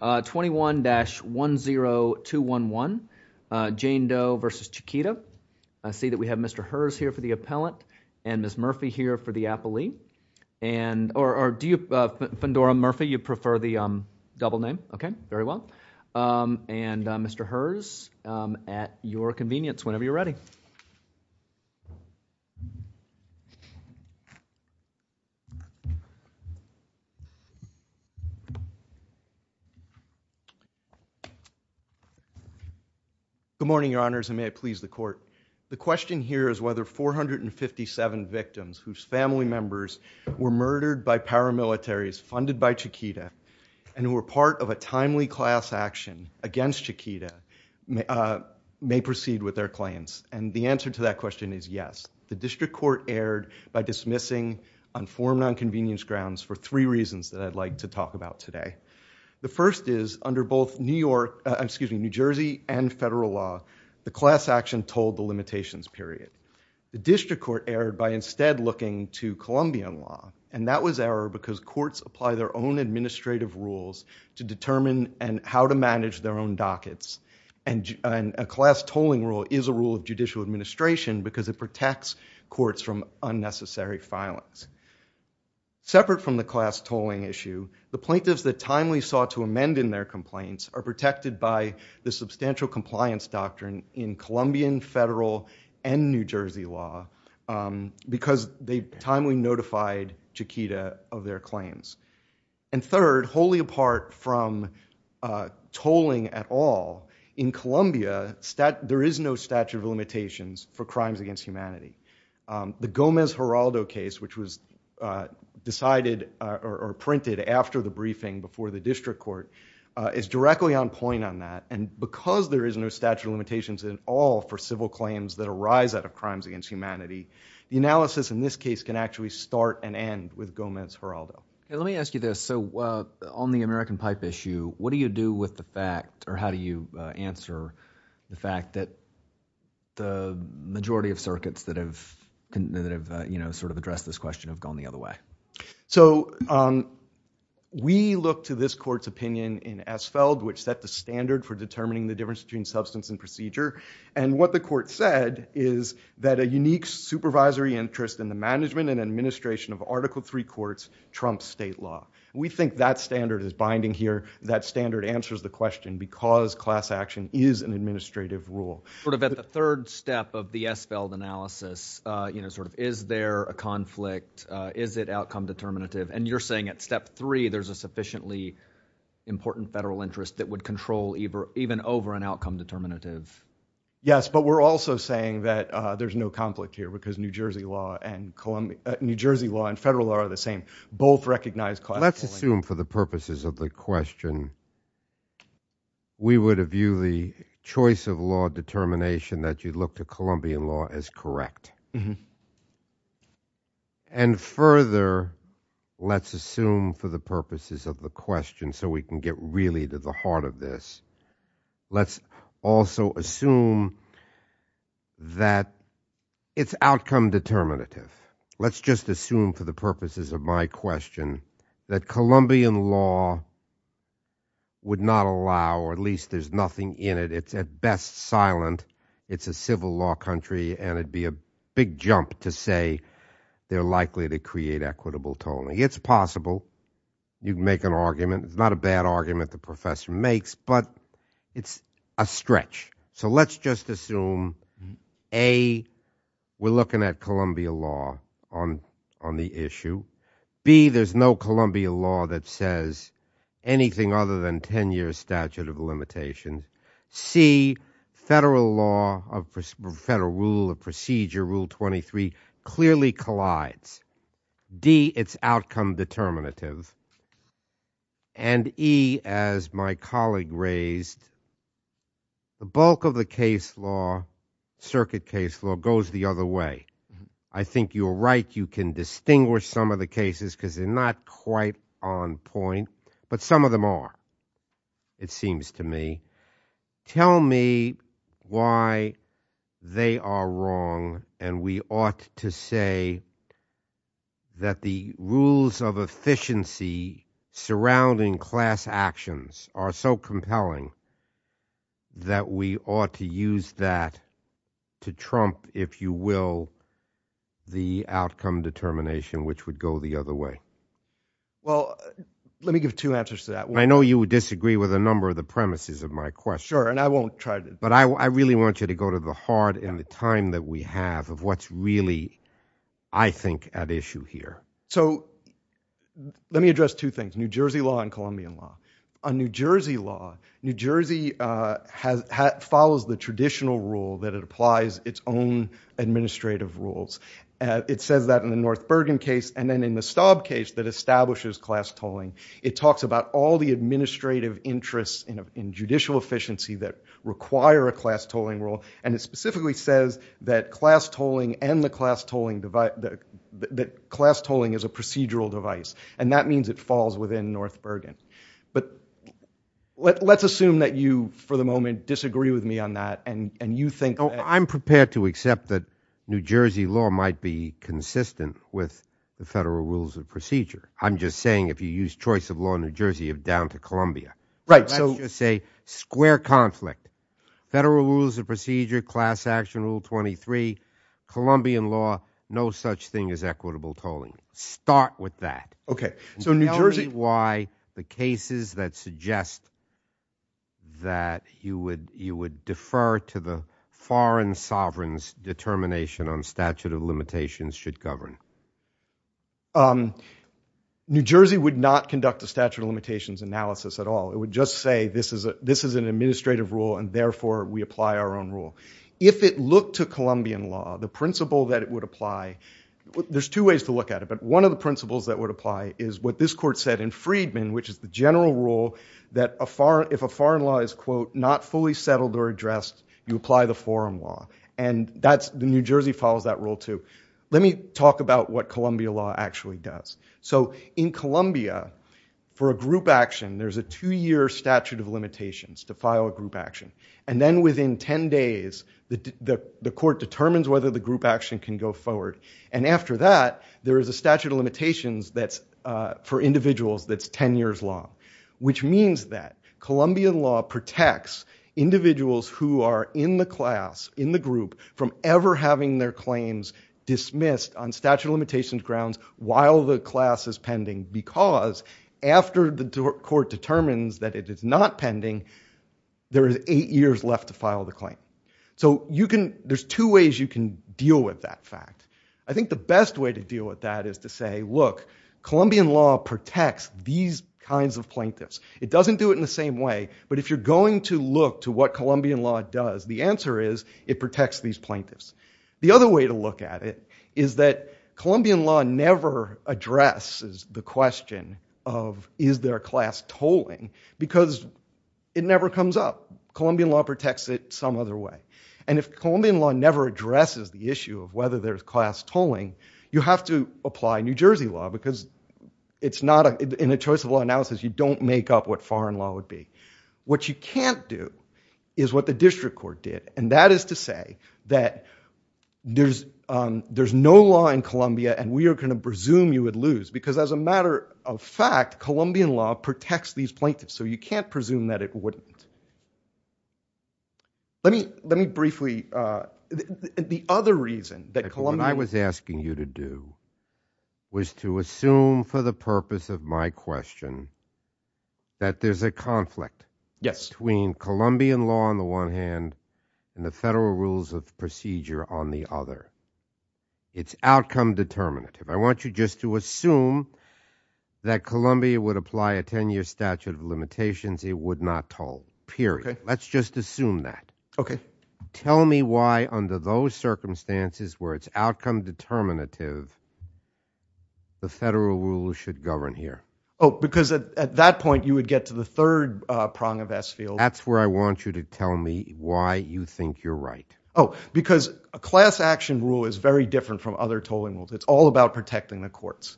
21-10211, Jane Doe v. Chiquita, I see that we have Mr. Herz here for the appellant and Ms. Murphy here for the appellee, and, or do you, Fandora Murphy, you prefer the double name? Okay, very well. And, Mr. Herz, at your convenience, whenever you're ready. Good morning, Your Honors, and may it please the Court. The question here is whether 457 victims whose family members were murdered by paramilitaries funded by Chiquita and were part of a timely class action against Chiquita may proceed with their claims, and the answer to that question is yes. The District Court erred by dismissing on four nonconvenience grounds for three reasons that I'd like to talk about today. The first is, under both New York, excuse me, New Jersey and federal law, the class action told the limitations period. The District Court erred by instead looking to Columbian law, and that was error because courts apply their own administrative rules to determine how to manage their own dockets, and a class tolling rule is a rule of judicial administration because it protects courts from unnecessary violence. Separate from the class tolling issue, the plaintiffs that timely sought to amend in their complaints are protected by the substantial compliance doctrine in Columbian, federal, and New Jersey law because they timely notified Chiquita of their claims. And third, wholly apart from tolling at all, in Columbia, there is no statute of limitations for crimes against humanity. The Gomez-Geraldo case, which was decided or printed after the briefing before the District Court is directly on point on that, and because there is no statute of limitations at all for civil claims that arise out of crimes against humanity, the analysis in this case can actually start and end with Gomez-Geraldo. Let me ask you this, so on the American pipe issue, what do you do with the fact, or how do you answer the fact that the majority of circuits that have sort of addressed this question have gone the other way? So we look to this court's opinion in Esfeld, which set the standard for determining the outcome. And what the court said is that a unique supervisory interest in the management and administration of Article III courts trumps state law. We think that standard is binding here, that standard answers the question because class action is an administrative rule. Sort of at the third step of the Esfeld analysis, you know, sort of is there a conflict? Is it outcome determinative? And you're saying at step three, there's a sufficiently important federal interest that would control even over an outcome determinative? Yes, but we're also saying that there's no conflict here because New Jersey law and federal law are the same. Both recognize class. Let's assume for the purposes of the question, we would view the choice of law determination that you look to Colombian law as correct. And further, let's assume for the purposes of the question, so we can get really to the heart of this. Let's also assume that it's outcome determinative. Let's just assume for the purposes of my question that Colombian law would not allow, or at least there's nothing in it. It's at best silent. It's a civil law country, and it'd be a big jump to say they're likely to create equitable tolling. It's possible. You can make an argument. It's not a bad argument the professor makes, but it's a stretch. So let's just assume, A, we're looking at Colombian law on the issue. B, there's no Colombian law that says anything other than 10-year statute of limitation. C, federal law, federal rule of procedure, Rule 23, clearly collides. D, it's outcome determinative. And E, as my colleague raised, the bulk of the case law, circuit case law, goes the other way. I think you're right. You can distinguish some of the cases because they're not quite on point, but some of them are, it seems to me. Tell me why they are wrong and we ought to say that the rules of efficiency surrounding class actions are so compelling that we ought to use that to trump, if you will, the outcome determination, which would go the other way. Well, let me give two answers to that. I know you would disagree with a number of the premises of my question, but I really want you to go to the heart and the time that we have of what's really, I think, at issue here. So let me address two things, New Jersey law and Colombian law. On New Jersey law, New Jersey follows the traditional rule that it applies its own administrative rules. It says that in the North Bergen case and then in the Staub case that establishes class tolling. It talks about all the administrative interests in judicial efficiency that require a class tolling rule. And it specifically says that class tolling and the class tolling device, that class tolling is a procedural device. And that means it falls within North Bergen. But let's assume that you, for the moment, disagree with me on that. And you think- I'm prepared to accept that New Jersey law might be consistent with the federal rules of procedure. I'm just saying, if you use choice of law in New Jersey, you're down to Columbia. Right, so- Let's just say, square conflict. Federal rules of procedure, class action rule 23, Colombian law, no such thing as equitable tolling. Start with that. Okay. So New Jersey- Tell me why the cases that suggest that you would defer to the foreign sovereign's determination on statute of limitations should govern. New Jersey would not conduct a statute of limitations analysis at all. It would just say, this is an administrative rule, and therefore we apply our own rule. If it looked to Colombian law, the principle that it would apply, there's two ways to look at it. But one of the principles that would apply is what this court said in Freedman, which is the general rule that if a foreign law is, quote, not fully settled or addressed, you apply the forum law. And the New Jersey follows that rule too. Let me talk about what Columbia law actually does. So in Columbia, for a group action, there's a two year statute of limitations to file a group action. And then within 10 days, the court determines whether the group action can go forward. And after that, there is a statute of limitations for individuals that's 10 years long. Which means that Colombian law protects individuals who are in the class, in the group, from ever having their claims dismissed on statute of limitations grounds while the class is pending. Because after the court determines that it is not pending, there is eight years left to file the claim. So there's two ways you can deal with that fact. I think the best way to deal with that is to say, look, Colombian law protects these kinds of plaintiffs. It doesn't do it in the same way. But if you're going to look to what Colombian law does, the answer is, it protects these plaintiffs. The other way to look at it is that Colombian law never addresses the question of, is there class tolling? Because it never comes up. Colombian law protects it some other way. And if Colombian law never addresses the issue of whether there's class tolling, you have to apply New Jersey law. Because in a choice of law analysis, you don't make up what foreign law would be. What you can't do is what the district court did. And that is to say that there's no law in Colombia, and we are going to presume you would lose. Because as a matter of fact, Colombian law protects these plaintiffs. So you can't presume that it wouldn't. Let me briefly, the other reason that Colombia- What I was asking you to do was to assume for the purpose of my question that there's a conflict between Colombian law on the one hand and the federal rules of procedure on the other. It's outcome determinative. I want you just to assume that Colombia would apply a 10-year statute of limitations it would not toll. Period. Let's just assume that. Tell me why under those circumstances where it's outcome determinative, the federal rules should govern here. Because at that point, you would get to the third prong of S field. That's where I want you to tell me why you think you're right. Because a class action rule is very different from other tolling rules. It's all about protecting the courts.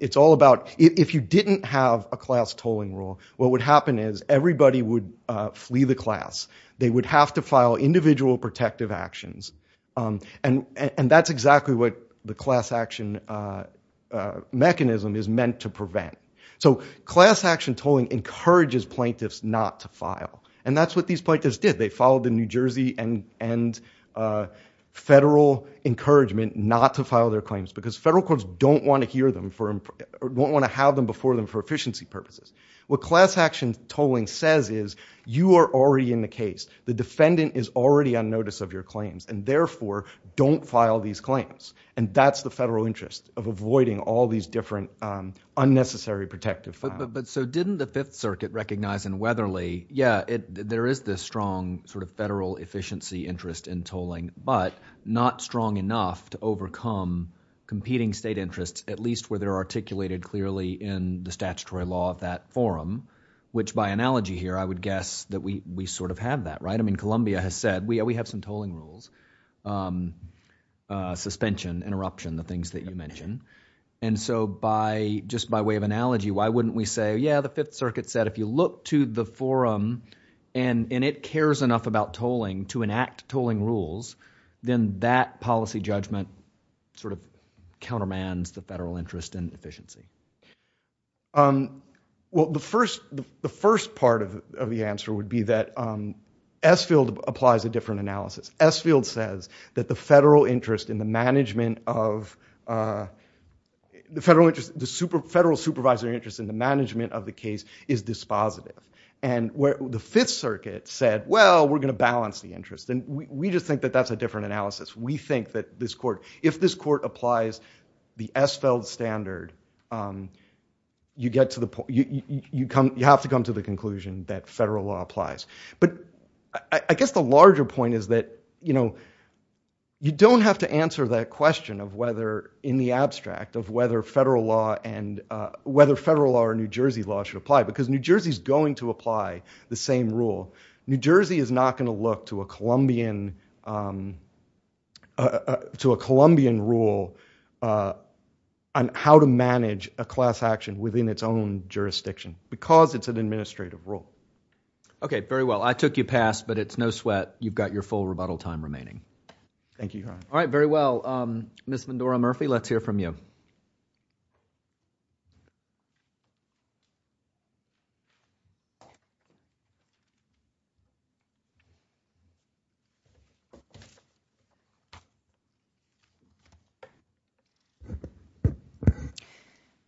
It's all about if you didn't have a class tolling rule, what would happen is everybody would flee the class. They would have to file individual protective actions. And that's exactly what the class action mechanism is meant to prevent. So class action tolling encourages plaintiffs not to file. And that's what these plaintiffs did. They followed the New Jersey and federal encouragement not to file their claims. Because federal courts don't want to have them before them for efficiency purposes. What class action tolling says is you are already in the case. The defendant is already on notice of your claims. And therefore, don't file these claims. And that's the federal interest of avoiding all these different unnecessary protective files. But so didn't the Fifth Circuit recognize in Weatherly, yeah, there is this strong sort of federal efficiency interest in tolling, but not strong enough to overcome competing state interests, at least where they're articulated clearly in the statutory law of that forum. Which by analogy here, I would guess that we sort of have that, right? I mean, Columbia has said, we have some tolling rules, suspension, interruption, the things that you mentioned. And so just by way of analogy, why wouldn't we say, yeah, the Fifth Circuit said if you look to the forum, and it cares enough about tolling to enact tolling rules, then that policy judgment sort of countermands the federal interest in efficiency? Well, the first part of the answer would be that Esfield applies a different analysis. Esfield says that the federal interest in the management of the federal interest, the And where the Fifth Circuit said, well, we're going to balance the interest. And we just think that that's a different analysis. We think that this court, if this court applies the Esfield standard, you have to come to the conclusion that federal law applies. But I guess the larger point is that you don't have to answer that question of whether, in the abstract, of whether federal law or New Jersey law should apply. Because New Jersey's going to apply the same rule. New Jersey is not going to look to a Colombian rule on how to manage a class action within its own jurisdiction, because it's an administrative rule. OK. Very well. I took you past. But it's no sweat. You've got your full rebuttal time remaining. Thank you. All right. Very well. Ms. Vendora Murphy, let's hear from you.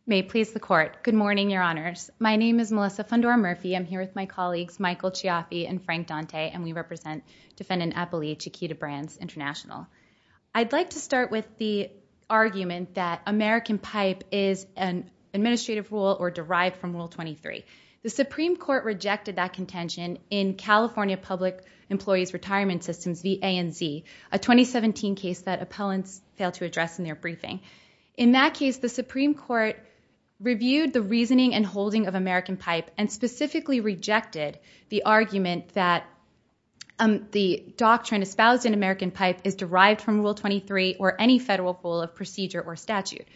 May it please the Court. Good morning, Your Honors. My name is Melissa Vendora Murphy. I'm here with my colleagues, Michael Chiaffi and Frank Dante. And we represent Defendant Appali Chiquita Brands International. I'd like to start with the argument that American Pipe is an administrative rule or derived from Rule 23. The Supreme Court rejected that contention in California Public Employees Retirement Systems v. ANZ, a 2017 case that appellants failed to address in their briefing. In that case, the Supreme Court reviewed the reasoning and holding of American Pipe and specifically rejected the argument that the doctrine espoused in American Pipe is derived from Rule 23 or any federal rule of procedure or statute.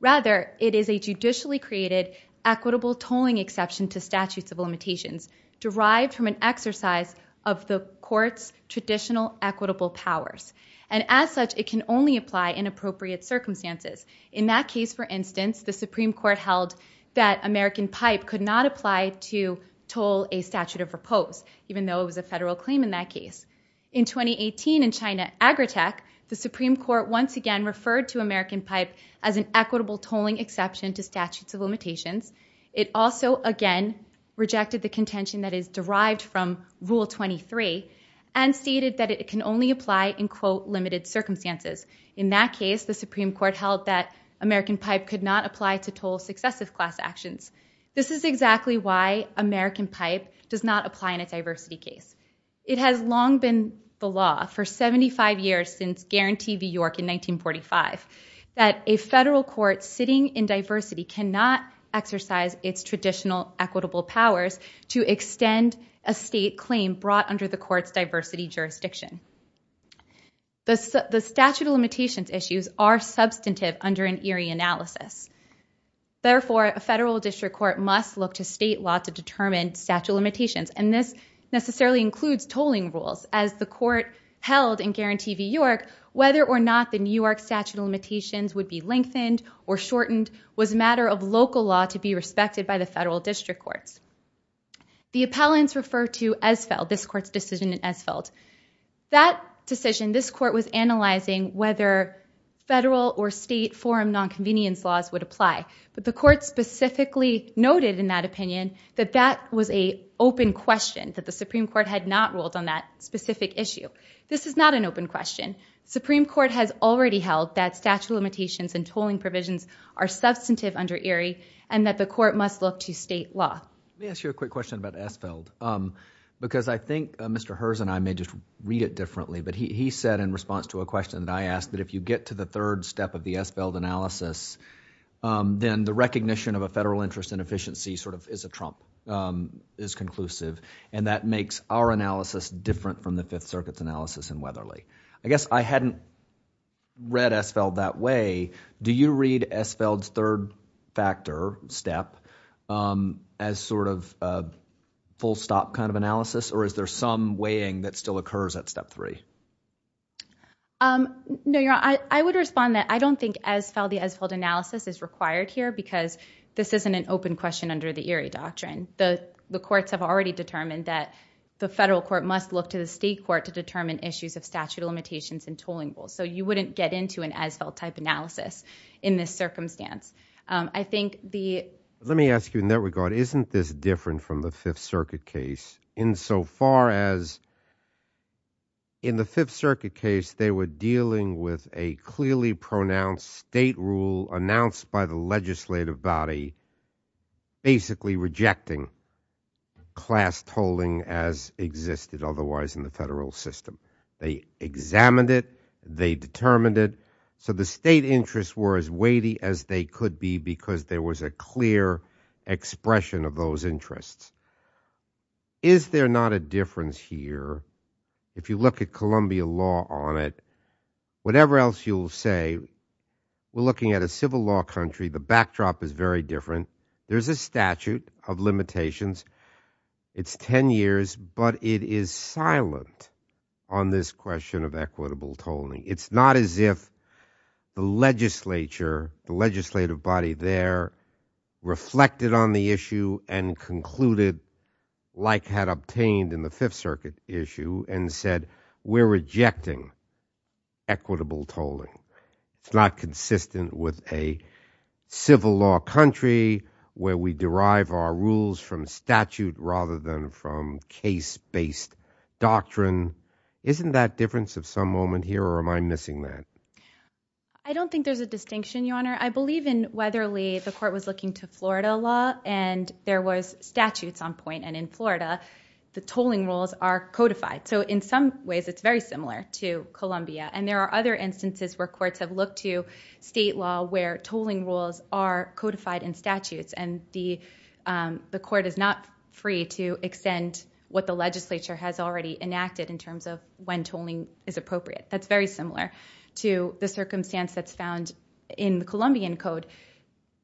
Rather, it is a judicially created equitable tolling exception to statutes of limitations derived from an exercise of the court's traditional equitable powers. And as such, it can only apply in appropriate circumstances. In that case, for instance, the Supreme Court held that American Pipe could not apply to toll a statute of repose, even though it was a federal claim in that case. In 2018 in China, Agritech, the Supreme Court once again referred to American Pipe as an equitable tolling exception to statutes of limitations. It also again rejected the contention that is derived from Rule 23 and stated that it can only apply in, quote, limited circumstances. In that case, the Supreme Court held that American Pipe could not apply to toll successive class actions. This is exactly why American Pipe does not apply in a diversity case. It has long been the law for 75 years since Guarantee v. York in 1945 that a federal court sitting in diversity cannot exercise its traditional equitable powers to extend a state claim brought under the court's diversity jurisdiction. The statute of limitations issues are substantive under an Erie analysis. Therefore, a federal district court must look to state law to determine statute of limitations. And this necessarily includes tolling rules. As the court held in Guarantee v. York, whether or not the New York statute of limitations would be lengthened or shortened was a matter of local law to be respected by the federal district courts. The appellants refer to Esfeld, this court's decision in Esfeld. That decision, this court was analyzing whether federal or state forum nonconvenience laws would apply. The court specifically noted in that opinion that that was an open question, that the Supreme Court had not ruled on that specific issue. This is not an open question. Supreme Court has already held that statute of limitations and tolling provisions are substantive under Erie and that the court must look to state law. Let me ask you a quick question about Esfeld. Because I think Mr. Herz and I may just read it differently, but he said in response to a question that I asked that if you get to the third step of the Esfeld analysis, then the recognition of a federal interest in efficiency sort of is a trump, is conclusive. And that makes our analysis different from the Fifth Circuit's analysis in Weatherly. I guess I hadn't read Esfeld that way. Do you read Esfeld's third factor step as sort of a full stop kind of analysis or is there some weighing that still occurs at step three? No, you're on. I would respond that I don't think Esfeld, the Esfeld analysis is required here because this isn't an open question under the Erie doctrine. The courts have already determined that the federal court must look to the state court to determine issues of statute of limitations and tolling rules. So you wouldn't get into an Esfeld type analysis in this circumstance. I think the- Let me ask you in that regard, isn't this in the Fifth Circuit case, they were dealing with a clearly pronounced state rule announced by the legislative body basically rejecting class tolling as existed otherwise in the federal system. They examined it. They determined it. So the state interests were as weighty as they could be because there was a clear expression of those interests. Is there not a difference here? If you look at Columbia law on it, whatever else you'll say, we're looking at a civil law country. The backdrop is very different. There's a statute of limitations. It's 10 years, but it is silent on this question of equitable tolling. It's not as if the legislature, the legislative body there reflected on the issue and concluded like had obtained in the Fifth Circuit issue and said, we're rejecting equitable tolling. It's not consistent with a civil law country where we derive our rules from statute rather than from case-based doctrine. Isn't that difference of some moment here or am I missing that? I believe in Weatherly, the court was looking to Florida law and there was statutes on point and in Florida, the tolling rules are codified. So in some ways, it's very similar to Columbia. And there are other instances where courts have looked to state law where tolling rules are codified in statutes and the court is not free to extend what the legislature has already enacted in terms of when tolling is appropriate. That's very similar to the circumstance that's found in the Columbian code.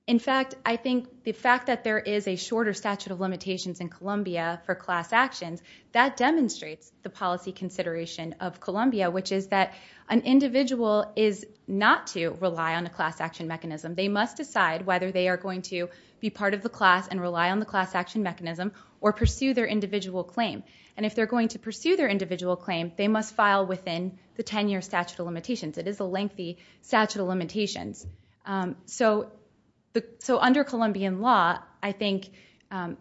In fact, I think the fact that there is a shorter statute of limitations in Columbia for class actions, that demonstrates the policy consideration of Columbia, which is that an individual is not to rely on a class action mechanism. They must decide whether they are going to be part of the class and rely on the class action mechanism or pursue their individual claim. And if they're going to pursue their individual claim, they must file within the 10-year statute of limitations. It is a lengthy statute of limitations. So under Columbian law, I think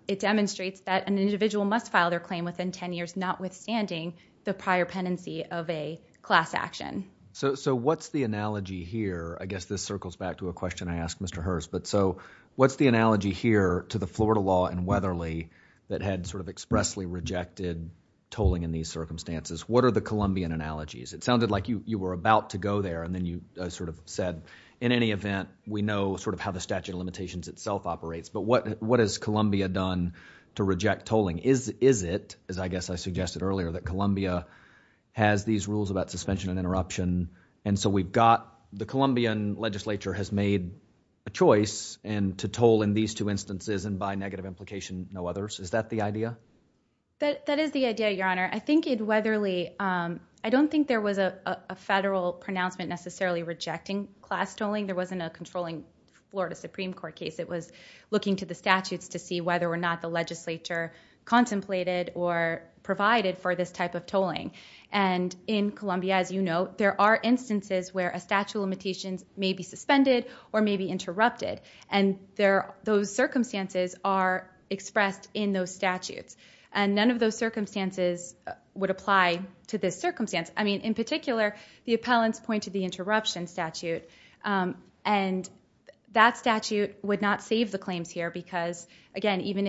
it demonstrates that an individual must file their claim within 10 years, notwithstanding the prior penancy of a class action. So what's the analogy here? I guess this circles back to a question I asked Mr. Hurst. But so what's the analogy here to the Florida law in Weatherly that had sort of expressly rejected tolling in these circumstances? What are the Columbian analogies? It sounded like you were about to go there, and then you sort of said, in any event, we know sort of how the statute of limitations itself operates. But what has Columbia done to reject tolling? Is it, as I guess I suggested earlier, that Columbia has these rules about suspension and interruption? And so we've got the Columbian legislature has made a choice to toll in these two instances and by negative implication, no others. Is that the idea? That is the idea, Your Honor. I think in Weatherly, I don't think there was a federal pronouncement necessarily rejecting class tolling. There wasn't a controlling Florida Supreme Court case. It was looking to the statutes to see whether or not the legislature contemplated or provided for this type of tolling. And in Columbia, as you know, there are instances where a statute of limitations may be suspended or may be interrupted. And those circumstances are expressed in those statutes. And none of those circumstances would apply to this circumstance. I mean, in particular, the appellants point to the interruption statute. And that statute would not save the claims here because, again, even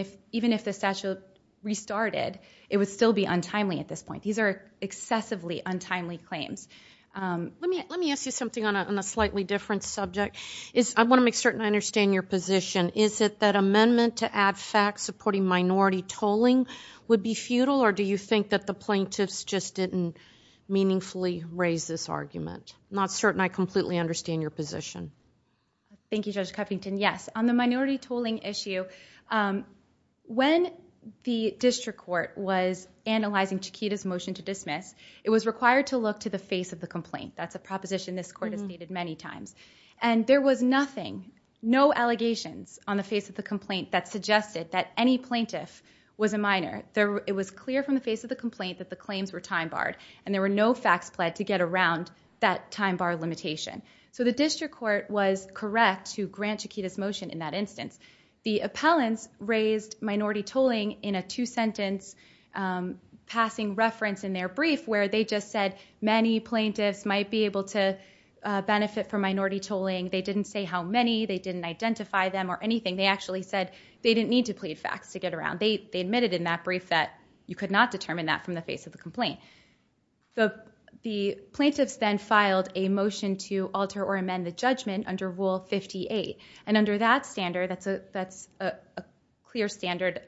if the statute restarted, it would still be untimely at this point. These are excessively untimely claims. Let me ask you something on a slightly different subject. I want to make certain I understand your position. Is it that amendment to add facts supporting minority tolling would be futile, or do you think that the plaintiffs just didn't meaningfully raise this argument? Not certain I completely understand your position. Thank you, Judge Cuffington. Yes. On the minority tolling issue, when the district court was analyzing Chiquita's motion to dismiss, it was required to look to the face of the complaint. That's a proposition this court has stated many times. And there was nothing, no allegations on the face of the complaint that suggested that any plaintiff was a minor. It was clear from the face of the complaint that the claims were time barred, and there were no facts pled to get around that time bar limitation. So the district court was correct to grant Chiquita's motion in that instance. The appellants raised minority tolling in a two-sentence passing reference in their They didn't say how many. They didn't identify them or anything. They actually said they didn't need to plead facts to get around. They admitted in that brief that you could not determine that from the face of the complaint. The plaintiffs then filed a motion to alter or amend the judgment under Rule 58. And under that standard, that's a clear standard,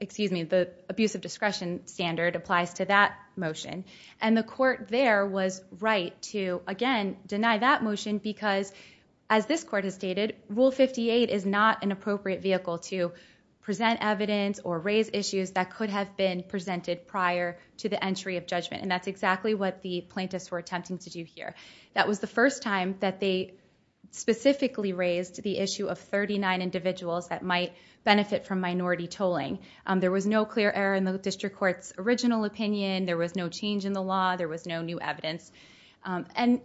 excuse me, the abuse of discretion standard applies to that motion. And the court there was right to, again, deny that motion because, as this court has stated, Rule 58 is not an appropriate vehicle to present evidence or raise issues that could have been presented prior to the entry of judgment. And that's exactly what the plaintiffs were attempting to do here. That was the first time that they specifically raised the issue of 39 individuals that might benefit from minority tolling. There was no clear error in the district court's original opinion. There was no change in the law. There was no new evidence. And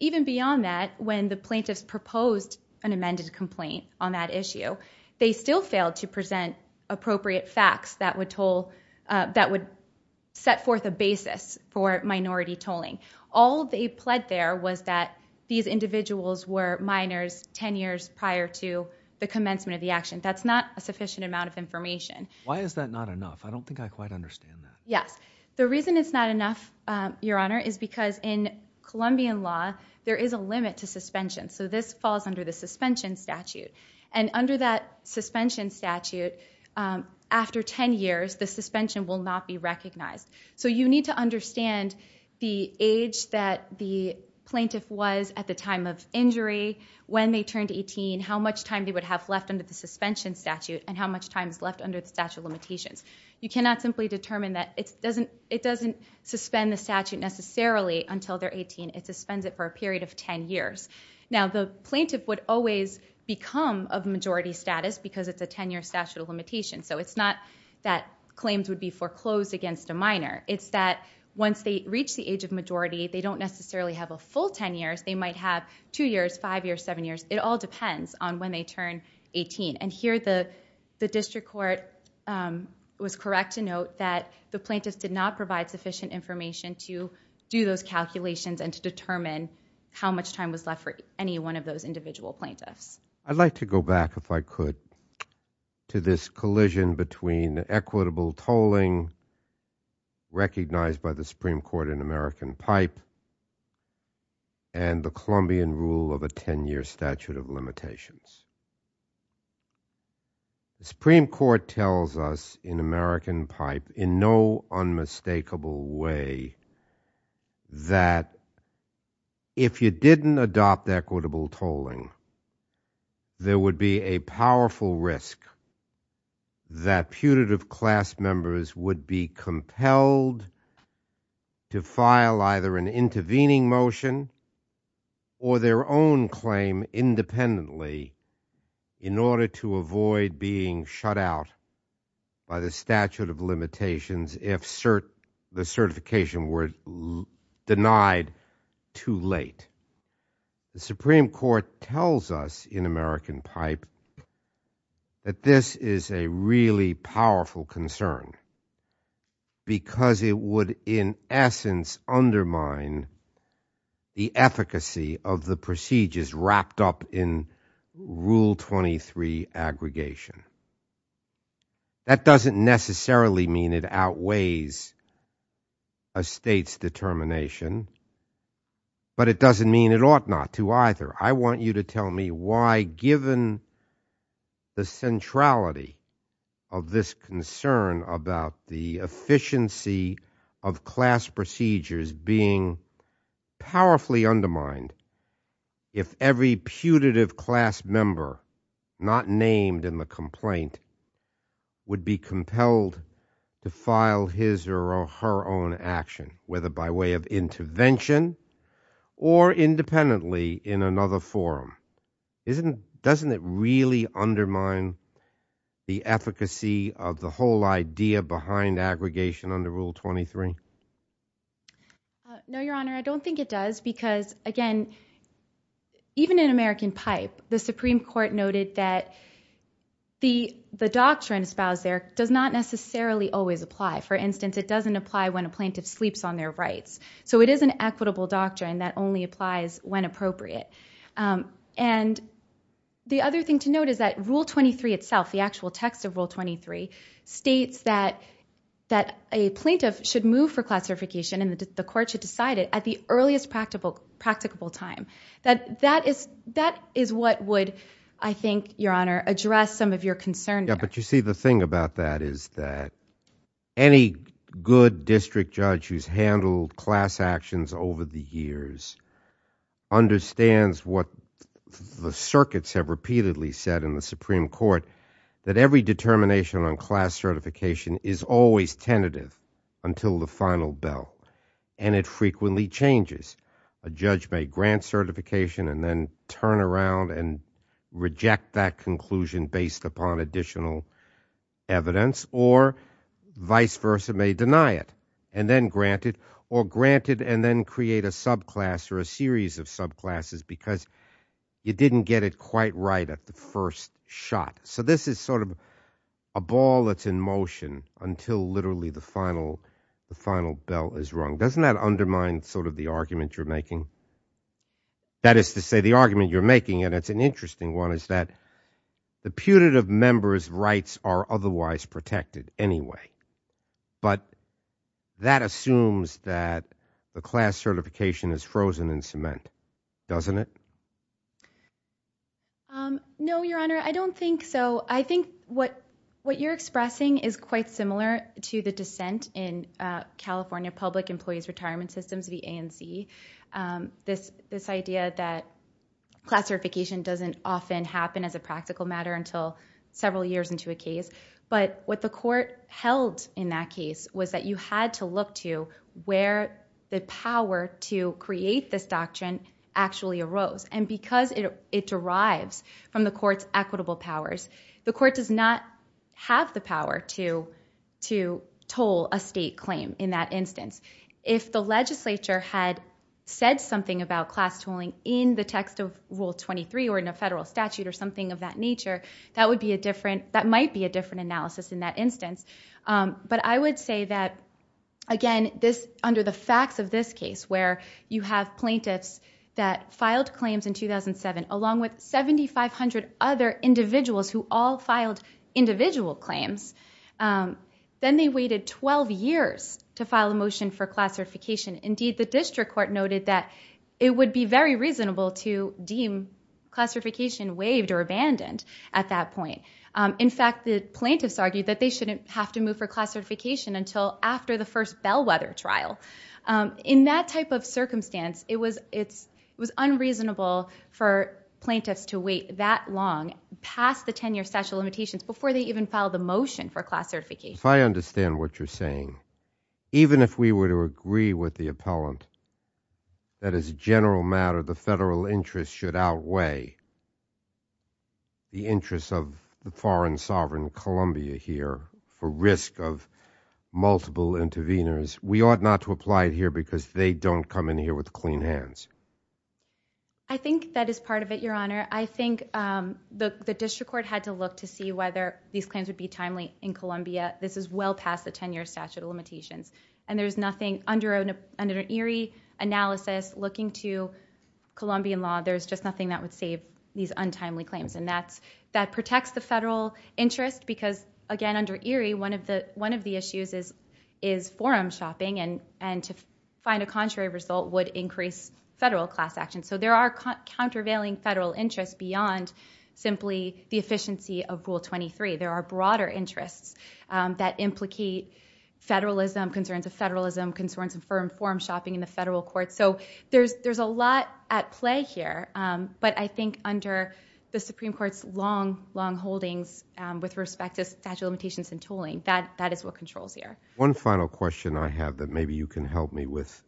even beyond that, when the plaintiffs proposed an amended complaint on that issue, they still failed to present appropriate facts that would toll, that would set forth a basis for minority tolling. All they pled there was that these individuals were minors 10 years prior to the commencement of the action. That's not a sufficient amount of information. Why is that not enough? I don't think I quite understand that. Yes. The reason it's not enough, Your Honor, is because in Colombian law, there is a limit to suspension. So this falls under the suspension statute. And under that suspension statute, after 10 years, the suspension will not be recognized. So you need to understand the age that the plaintiff was at the time of injury, when they turned 18, how much time they would have left under the suspension statute, and how much time is left under the statute of limitations. You cannot simply determine that. It doesn't suspend the statute necessarily until they're 18. It suspends it for a period of 10 years. Now the plaintiff would always become of majority status, because it's a 10-year statute of limitation. So it's not that claims would be foreclosed against a minor. It's that once they reach the age of majority, they don't necessarily have a full 10 years. They might have two years, five years, seven years. It all depends on when they turn 18. And here, the district court was correct to note that the plaintiffs did not provide sufficient information to do those calculations and to determine how much time was left for any one of those individual plaintiffs. I'd like to go back, if I could, to this collision between the equitable tolling recognized by the Supreme Court. The Supreme Court tells us in American Pipe, in no unmistakable way, that if you didn't adopt equitable tolling, there would be a powerful risk that putative class members would be compelled to file either an intervening motion or their own claim independently in order to avoid being shut out by the statute of limitations if the certification were denied too late. The Supreme Court tells us in American Pipe that this is a really powerful concern, because it would, in essence, undermine the efficacy of the procedures wrapped up in Rule 23 aggregation. That doesn't necessarily mean it outweighs a state's determination, but it doesn't mean it ought not to either. I want you to tell me why, given the centrality of this concern about the efficiency of class procedures being powerfully undermined, if every putative class member not named in the complaint would be compelled to file his or her own action, whether by way of intervention or independently in another forum, doesn't it really undermine the efficacy of the whole idea behind aggregation under Rule 23? No, Your Honor, I don't think it does, because again, even in American Pipe, the Supreme Court noted that the doctrine espoused there does not necessarily always apply. For instance, it doesn't apply when a plaintiff sleeps on their rights. It is an equitable doctrine that only applies when appropriate. The other thing to note is that Rule 23 itself, the actual text of Rule 23, states that a plaintiff should move for classification and the court should decide it at the earliest practicable time. That is what would, I think, Your Honor, address some of your concern there. You see, the thing about that is that any good district judge who's handled class actions over the years understands what the circuits have repeatedly said in the Supreme Court, that every determination on class certification is always tentative until the final bell, and it frequently changes. A judge may grant certification and then turn around and reject that conclusion based upon additional evidence, or vice versa, may deny it and then grant it, or grant it and then create a subclass or a series of subclasses because you didn't get it quite right at the first shot. So this is sort of a ball that's in motion until literally the final bell is rung. Doesn't that undermine sort of the argument you're making? That is to say, the argument you're making, and it's an interesting one, is that the putative member's rights are otherwise protected anyway. But that assumes that the class certification is frozen in cement, doesn't it? No, Your Honor, I don't think so. I think what you're expressing is quite similar to the dissent in California Public Employees Retirement Systems, the ANC, this idea that class certification doesn't often happen as a practical matter until several years into a case. But what the court held in that case was that you had to look to where the power to create this doctrine actually arose. And because it derives from the court's equitable powers, the court does not have the power to toll a state claim in that instance. If the legislature had said something about class tolling in the text of Rule 23 or in a federal statute or something of that nature, that might be a different analysis in that instance. But I would say that, again, under the facts of this case, where you have plaintiffs that filed claims in 2007, along with 7,500 other individuals who all filed individual claims, then they waited 12 years to file a motion for class certification. Indeed, the district court noted that it would be very reasonable to deem class certification waived or abandoned at that point. In fact, the plaintiffs argued that they shouldn't have to move for class certification until after the first bellwether trial. In that type of circumstance, it was unreasonable for plaintiffs to wait that long, past the 10-year statute of limitations, before they even filed a motion for class certification. If I understand what you're saying, even if we were to agree with the appellant that as a general matter, the federal interest should outweigh the interest of the foreign sovereign Columbia here for risk of multiple interveners, we ought not to apply it here because they don't come in here with clean hands? I think that is part of it, Your Honor. I think the district court had to look to see whether these claims would be timely in this case. This is well past the 10-year statute of limitations. There's nothing under ERIE analysis looking to Colombian law. There's just nothing that would save these untimely claims. That protects the federal interest because, again, under ERIE, one of the issues is forum shopping and to find a contrary result would increase federal class action. There are countervailing federal interests beyond simply the efficiency of Rule 23. There are broader interests that implicate federalism, concerns of federalism, concerns of forum shopping in the federal court. There's a lot at play here, but I think under the Supreme Court's long, long holdings with respect to statute of limitations and tooling, that is what controls here. One final question I have that maybe you can help me with.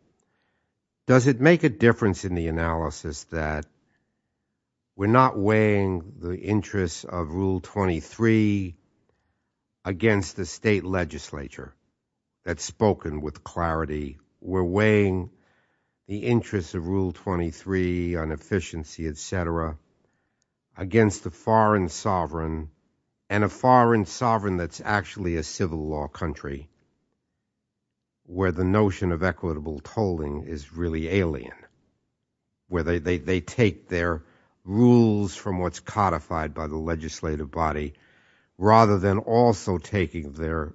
Does it make a difference in the analysis that we're not weighing the interests of Rule 23 against the state legislature? That's spoken with clarity. We're weighing the interests of Rule 23 on efficiency, et cetera, against the foreign sovereign and a foreign sovereign that's actually a civil law country where the notion of equitable tolling is really alien, where they take their rules from what's codified by the legislative body rather than also taking their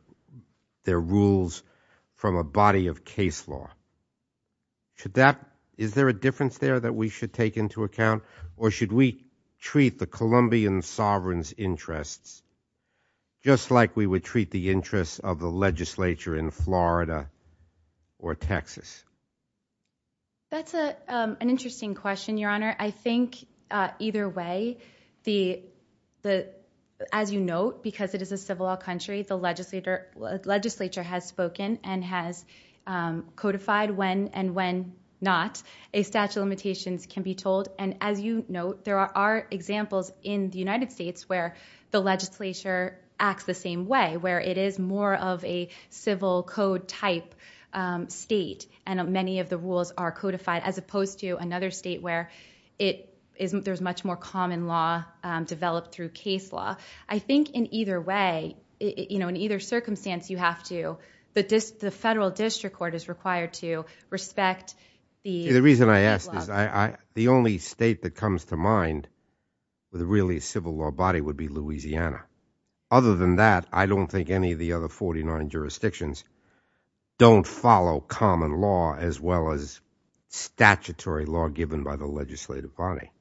rules from a body of case law. Is there a difference there that we should take into account, or should we treat the Colombian sovereign's interests just like we would treat the interests of the legislature in Florida or Texas? That's an interesting question, Your Honor. I think either way, as you note, because it is a civil law country, the legislature has spoken and has codified when and when not a statute of limitations can be told. As you note, there are examples in the United States where the legislature acts the same way, where it is more of a civil code type state and many of the rules are codified as opposed to another state where there's much more common law developed through case law. I think in either way, in either circumstance, you have to, the federal district court is required to respect the... The reason I ask is the only state that comes to mind with really a civil law body would be Louisiana. Other than that, I don't think any of the other 49 jurisdictions don't follow common law as well as statutory law given by the legislative body.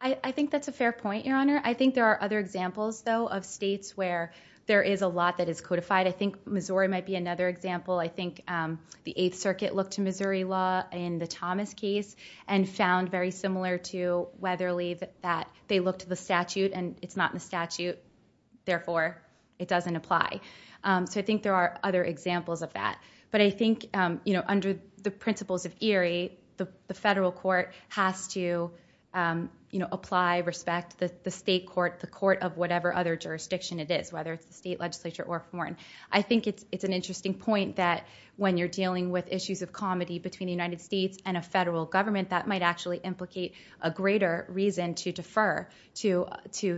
I think that's a fair point, Your Honor. I think there are other examples, though, of states where there is a lot that is codified. I think Missouri might be another example. I think the Eighth Circuit looked to Missouri law in the Thomas case and found very similar to Weatherly that they looked to the statute and it's not in the statute, therefore, it doesn't apply. I think there are other examples of that. I think under the principles of ERIE, the federal court has to apply, respect the state court, the court of whatever other jurisdiction it is, whether it's the state legislature or foreign. I think it's an interesting point that when you're dealing with issues of comity between the United States and a federal government, that might actually implicate a greater reason to defer to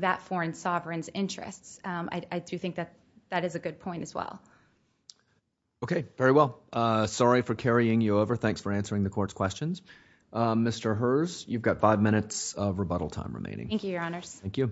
that foreign sovereign's interests. I do think that that is a good point as well. Okay. Very well. Sorry for carrying you over. Thanks for answering the court's questions. Mr. Herz, you've got five minutes of rebuttal time remaining. Thank you, Your Honors. Thank you.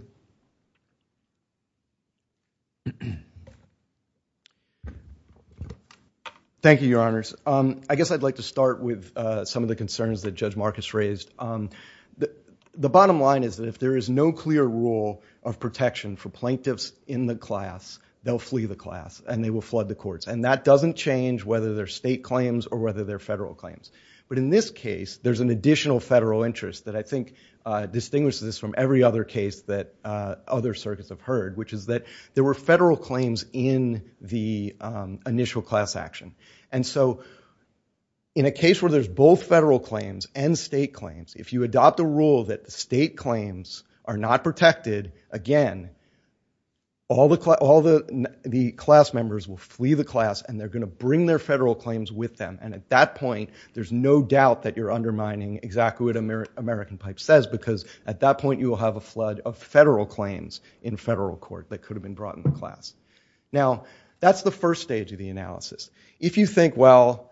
Thank you, Your Honors. I guess I'd like to start with some of the concerns that Judge Marcus raised. The bottom line is that if there is no clear rule of protection for plaintiffs in the class, they'll flee the class and they will flood the courts. That doesn't change whether they're state claims or whether they're federal claims. In this case, there's an additional federal interest that I think distinguishes this from every other case that other circuits have heard, which is that there were federal claims in the initial class action. And so, in a case where there's both federal claims and state claims, if you adopt a rule that the state claims are not protected, again, all the class members will flee the class and they're going to bring their federal claims with them. And at that point, there's no doubt that you're undermining exactly what American Pipe says because at that point, you will have a flood of federal claims in federal court that could have been brought into class. Now, that's the first stage of the analysis. If you think, well,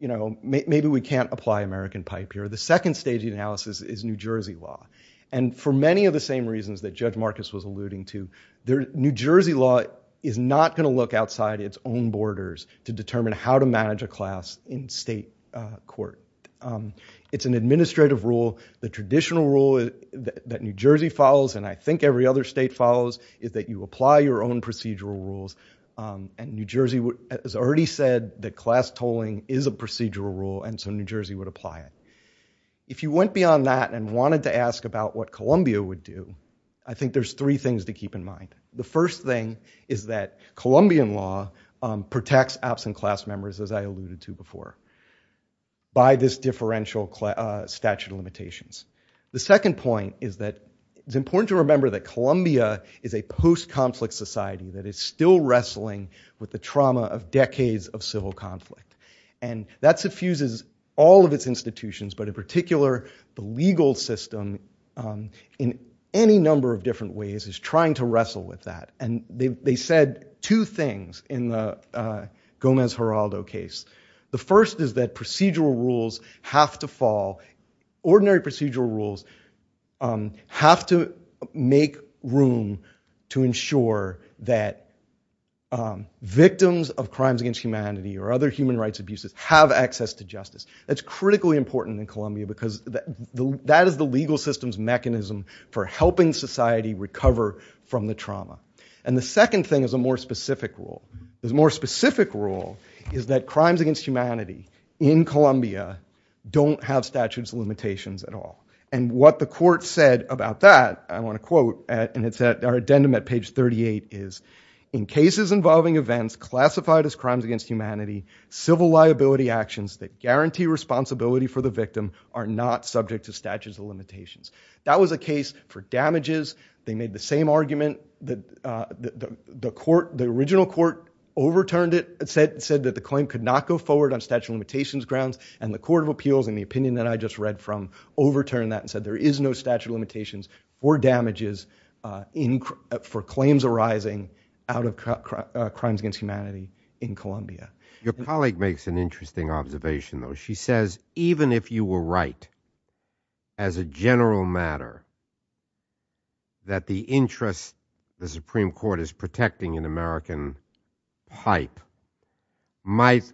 maybe we can't apply American Pipe here, the second stage of the analysis is New Jersey law. And for many of the same reasons that Judge Marcus was alluding to, New Jersey law is not going to look outside its own borders to determine how to manage a class in state court. It's an administrative rule. The traditional rule that New Jersey follows, and I think every other state follows, is that you apply your own procedural rules. And New Jersey has already said that class tolling is a procedural rule, and so New Jersey would apply it. If you went beyond that and wanted to ask about what Columbia would do, I think there's three things to keep in mind. The first thing is that Colombian law protects absent class members, as I alluded to before, by this differential statute of limitations. The second point is that it's important to remember that Columbia is a post-conflict society that is still wrestling with the trauma of decades of civil conflict. And that suffuses all of its institutions, but in particular, the legal system, in any number of different ways, is trying to wrestle with that. And they said two things in the Gomez-Geraldo case. The first is that procedural rules have to fall. Ordinary procedural rules have to make room to ensure that victims of crimes against humanity or other human rights abuses have access to justice. That's critically important in Columbia because that is the legal system's mechanism for helping society recover from the trauma. And the second thing is a more specific rule. This more specific rule is that crimes against humanity in Columbia don't have statutes of limitations at all. And what the court said about that, I want to quote, and it's at our addendum at page 38, is in cases involving events classified as crimes against humanity, civil liability actions that guarantee responsibility for the victim are not subject to statutes of limitations. That was a case for damages. They made the same argument. The original court overturned it, said that the claim could not go forward on statute of limitations grounds. And the Court of Appeals, in the opinion that I just read from, overturned that and said, there is no statute of limitations for damages for claims arising out of crimes against humanity in Columbia. Your colleague makes an interesting observation, though. She says, even if you were right, as a general matter, that the interest the Supreme Court is protecting in American hype might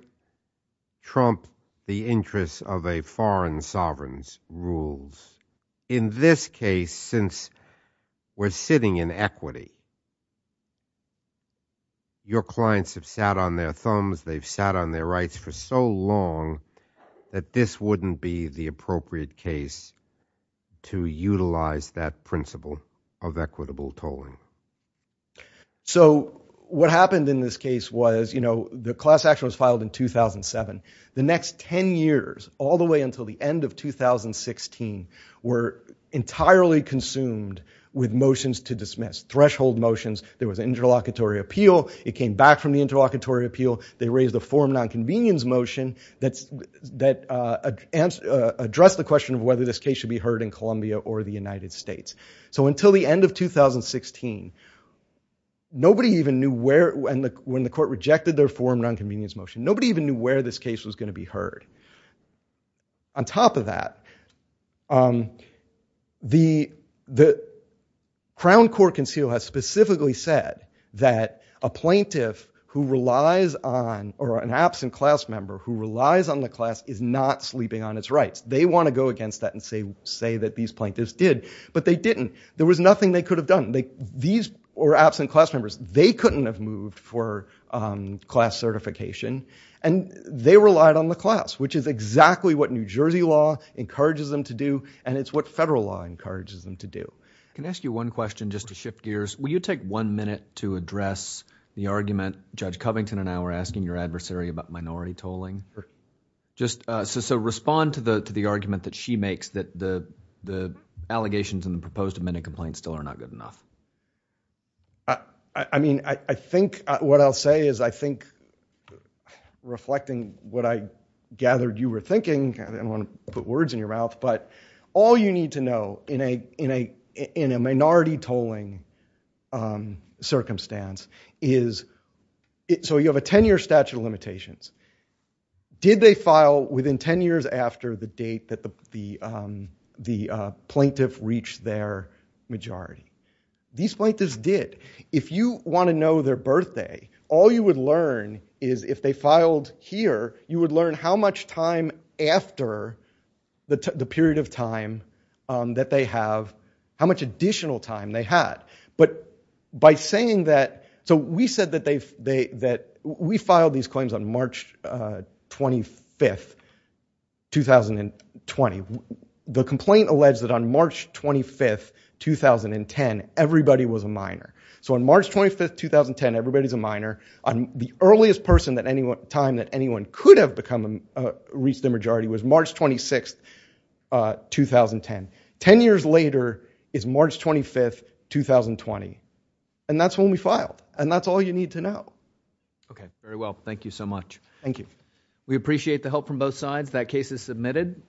trump the interests of a foreign sovereign's rules. In this case, since we're sitting in equity, your clients have sat on their thumbs, they've sat on their rights for so long that this wouldn't be the appropriate case to utilize that principle of equitable tolling. So what happened in this case was, you know, the class action was filed in 2007. The next 10 years, all the way until the end of 2016, were entirely consumed with motions to dismiss, threshold motions. There was an interlocutory appeal. It came back from the interlocutory appeal. They raised a forum nonconvenience motion that addressed the question of whether this case should be heard in Columbia or the United States. So until the end of 2016, nobody even knew where, when the court rejected their forum nonconvenience motion, nobody even knew where this case was going to be heard. On top of that, the Crown Court Conceal has specifically said that a plaintiff who relies on or an absent class member who relies on the class is not sleeping on its rights. They want to go against that and say that these plaintiffs did, but they didn't. There was nothing they could have done. These were absent class members. They couldn't have moved for class certification, and they relied on the class, which is exactly what New Jersey law encourages them to do, and it's what federal law encourages them to do. Can I ask you one question just to shift gears? Will you take one minute to address the argument Judge Covington and I were asking your adversary about minority tolling? Just so respond to the argument that she makes that the allegations in the proposed amended complaint still are not good enough. I mean, I think what I'll say is I think reflecting what I gathered you were thinking, I don't want to put words in your mouth, but all you need to know in a minority tolling circumstance is so you have a 10-year statute of limitations. Did they file within 10 years after the date that the plaintiff reached their majority? These plaintiffs did. If you want to know their birthday, all you would learn is if they filed here, you would learn how much time after the period of time that they have, how much additional time they had. But by saying that, so we said that we filed these claims on March 25th, 2020. The complaint alleged that on March 25th, 2010, everybody was a minor. So on March 25th, 2010, everybody's a minor. The earliest time that anyone could have reached their majority was March 26th, 2010. Ten years later is March 25th, 2020. And that's when we filed. And that's all you need to know. Okay, very well. Thank you so much. Thank you. We appreciate the help from both sides. That case is submitted.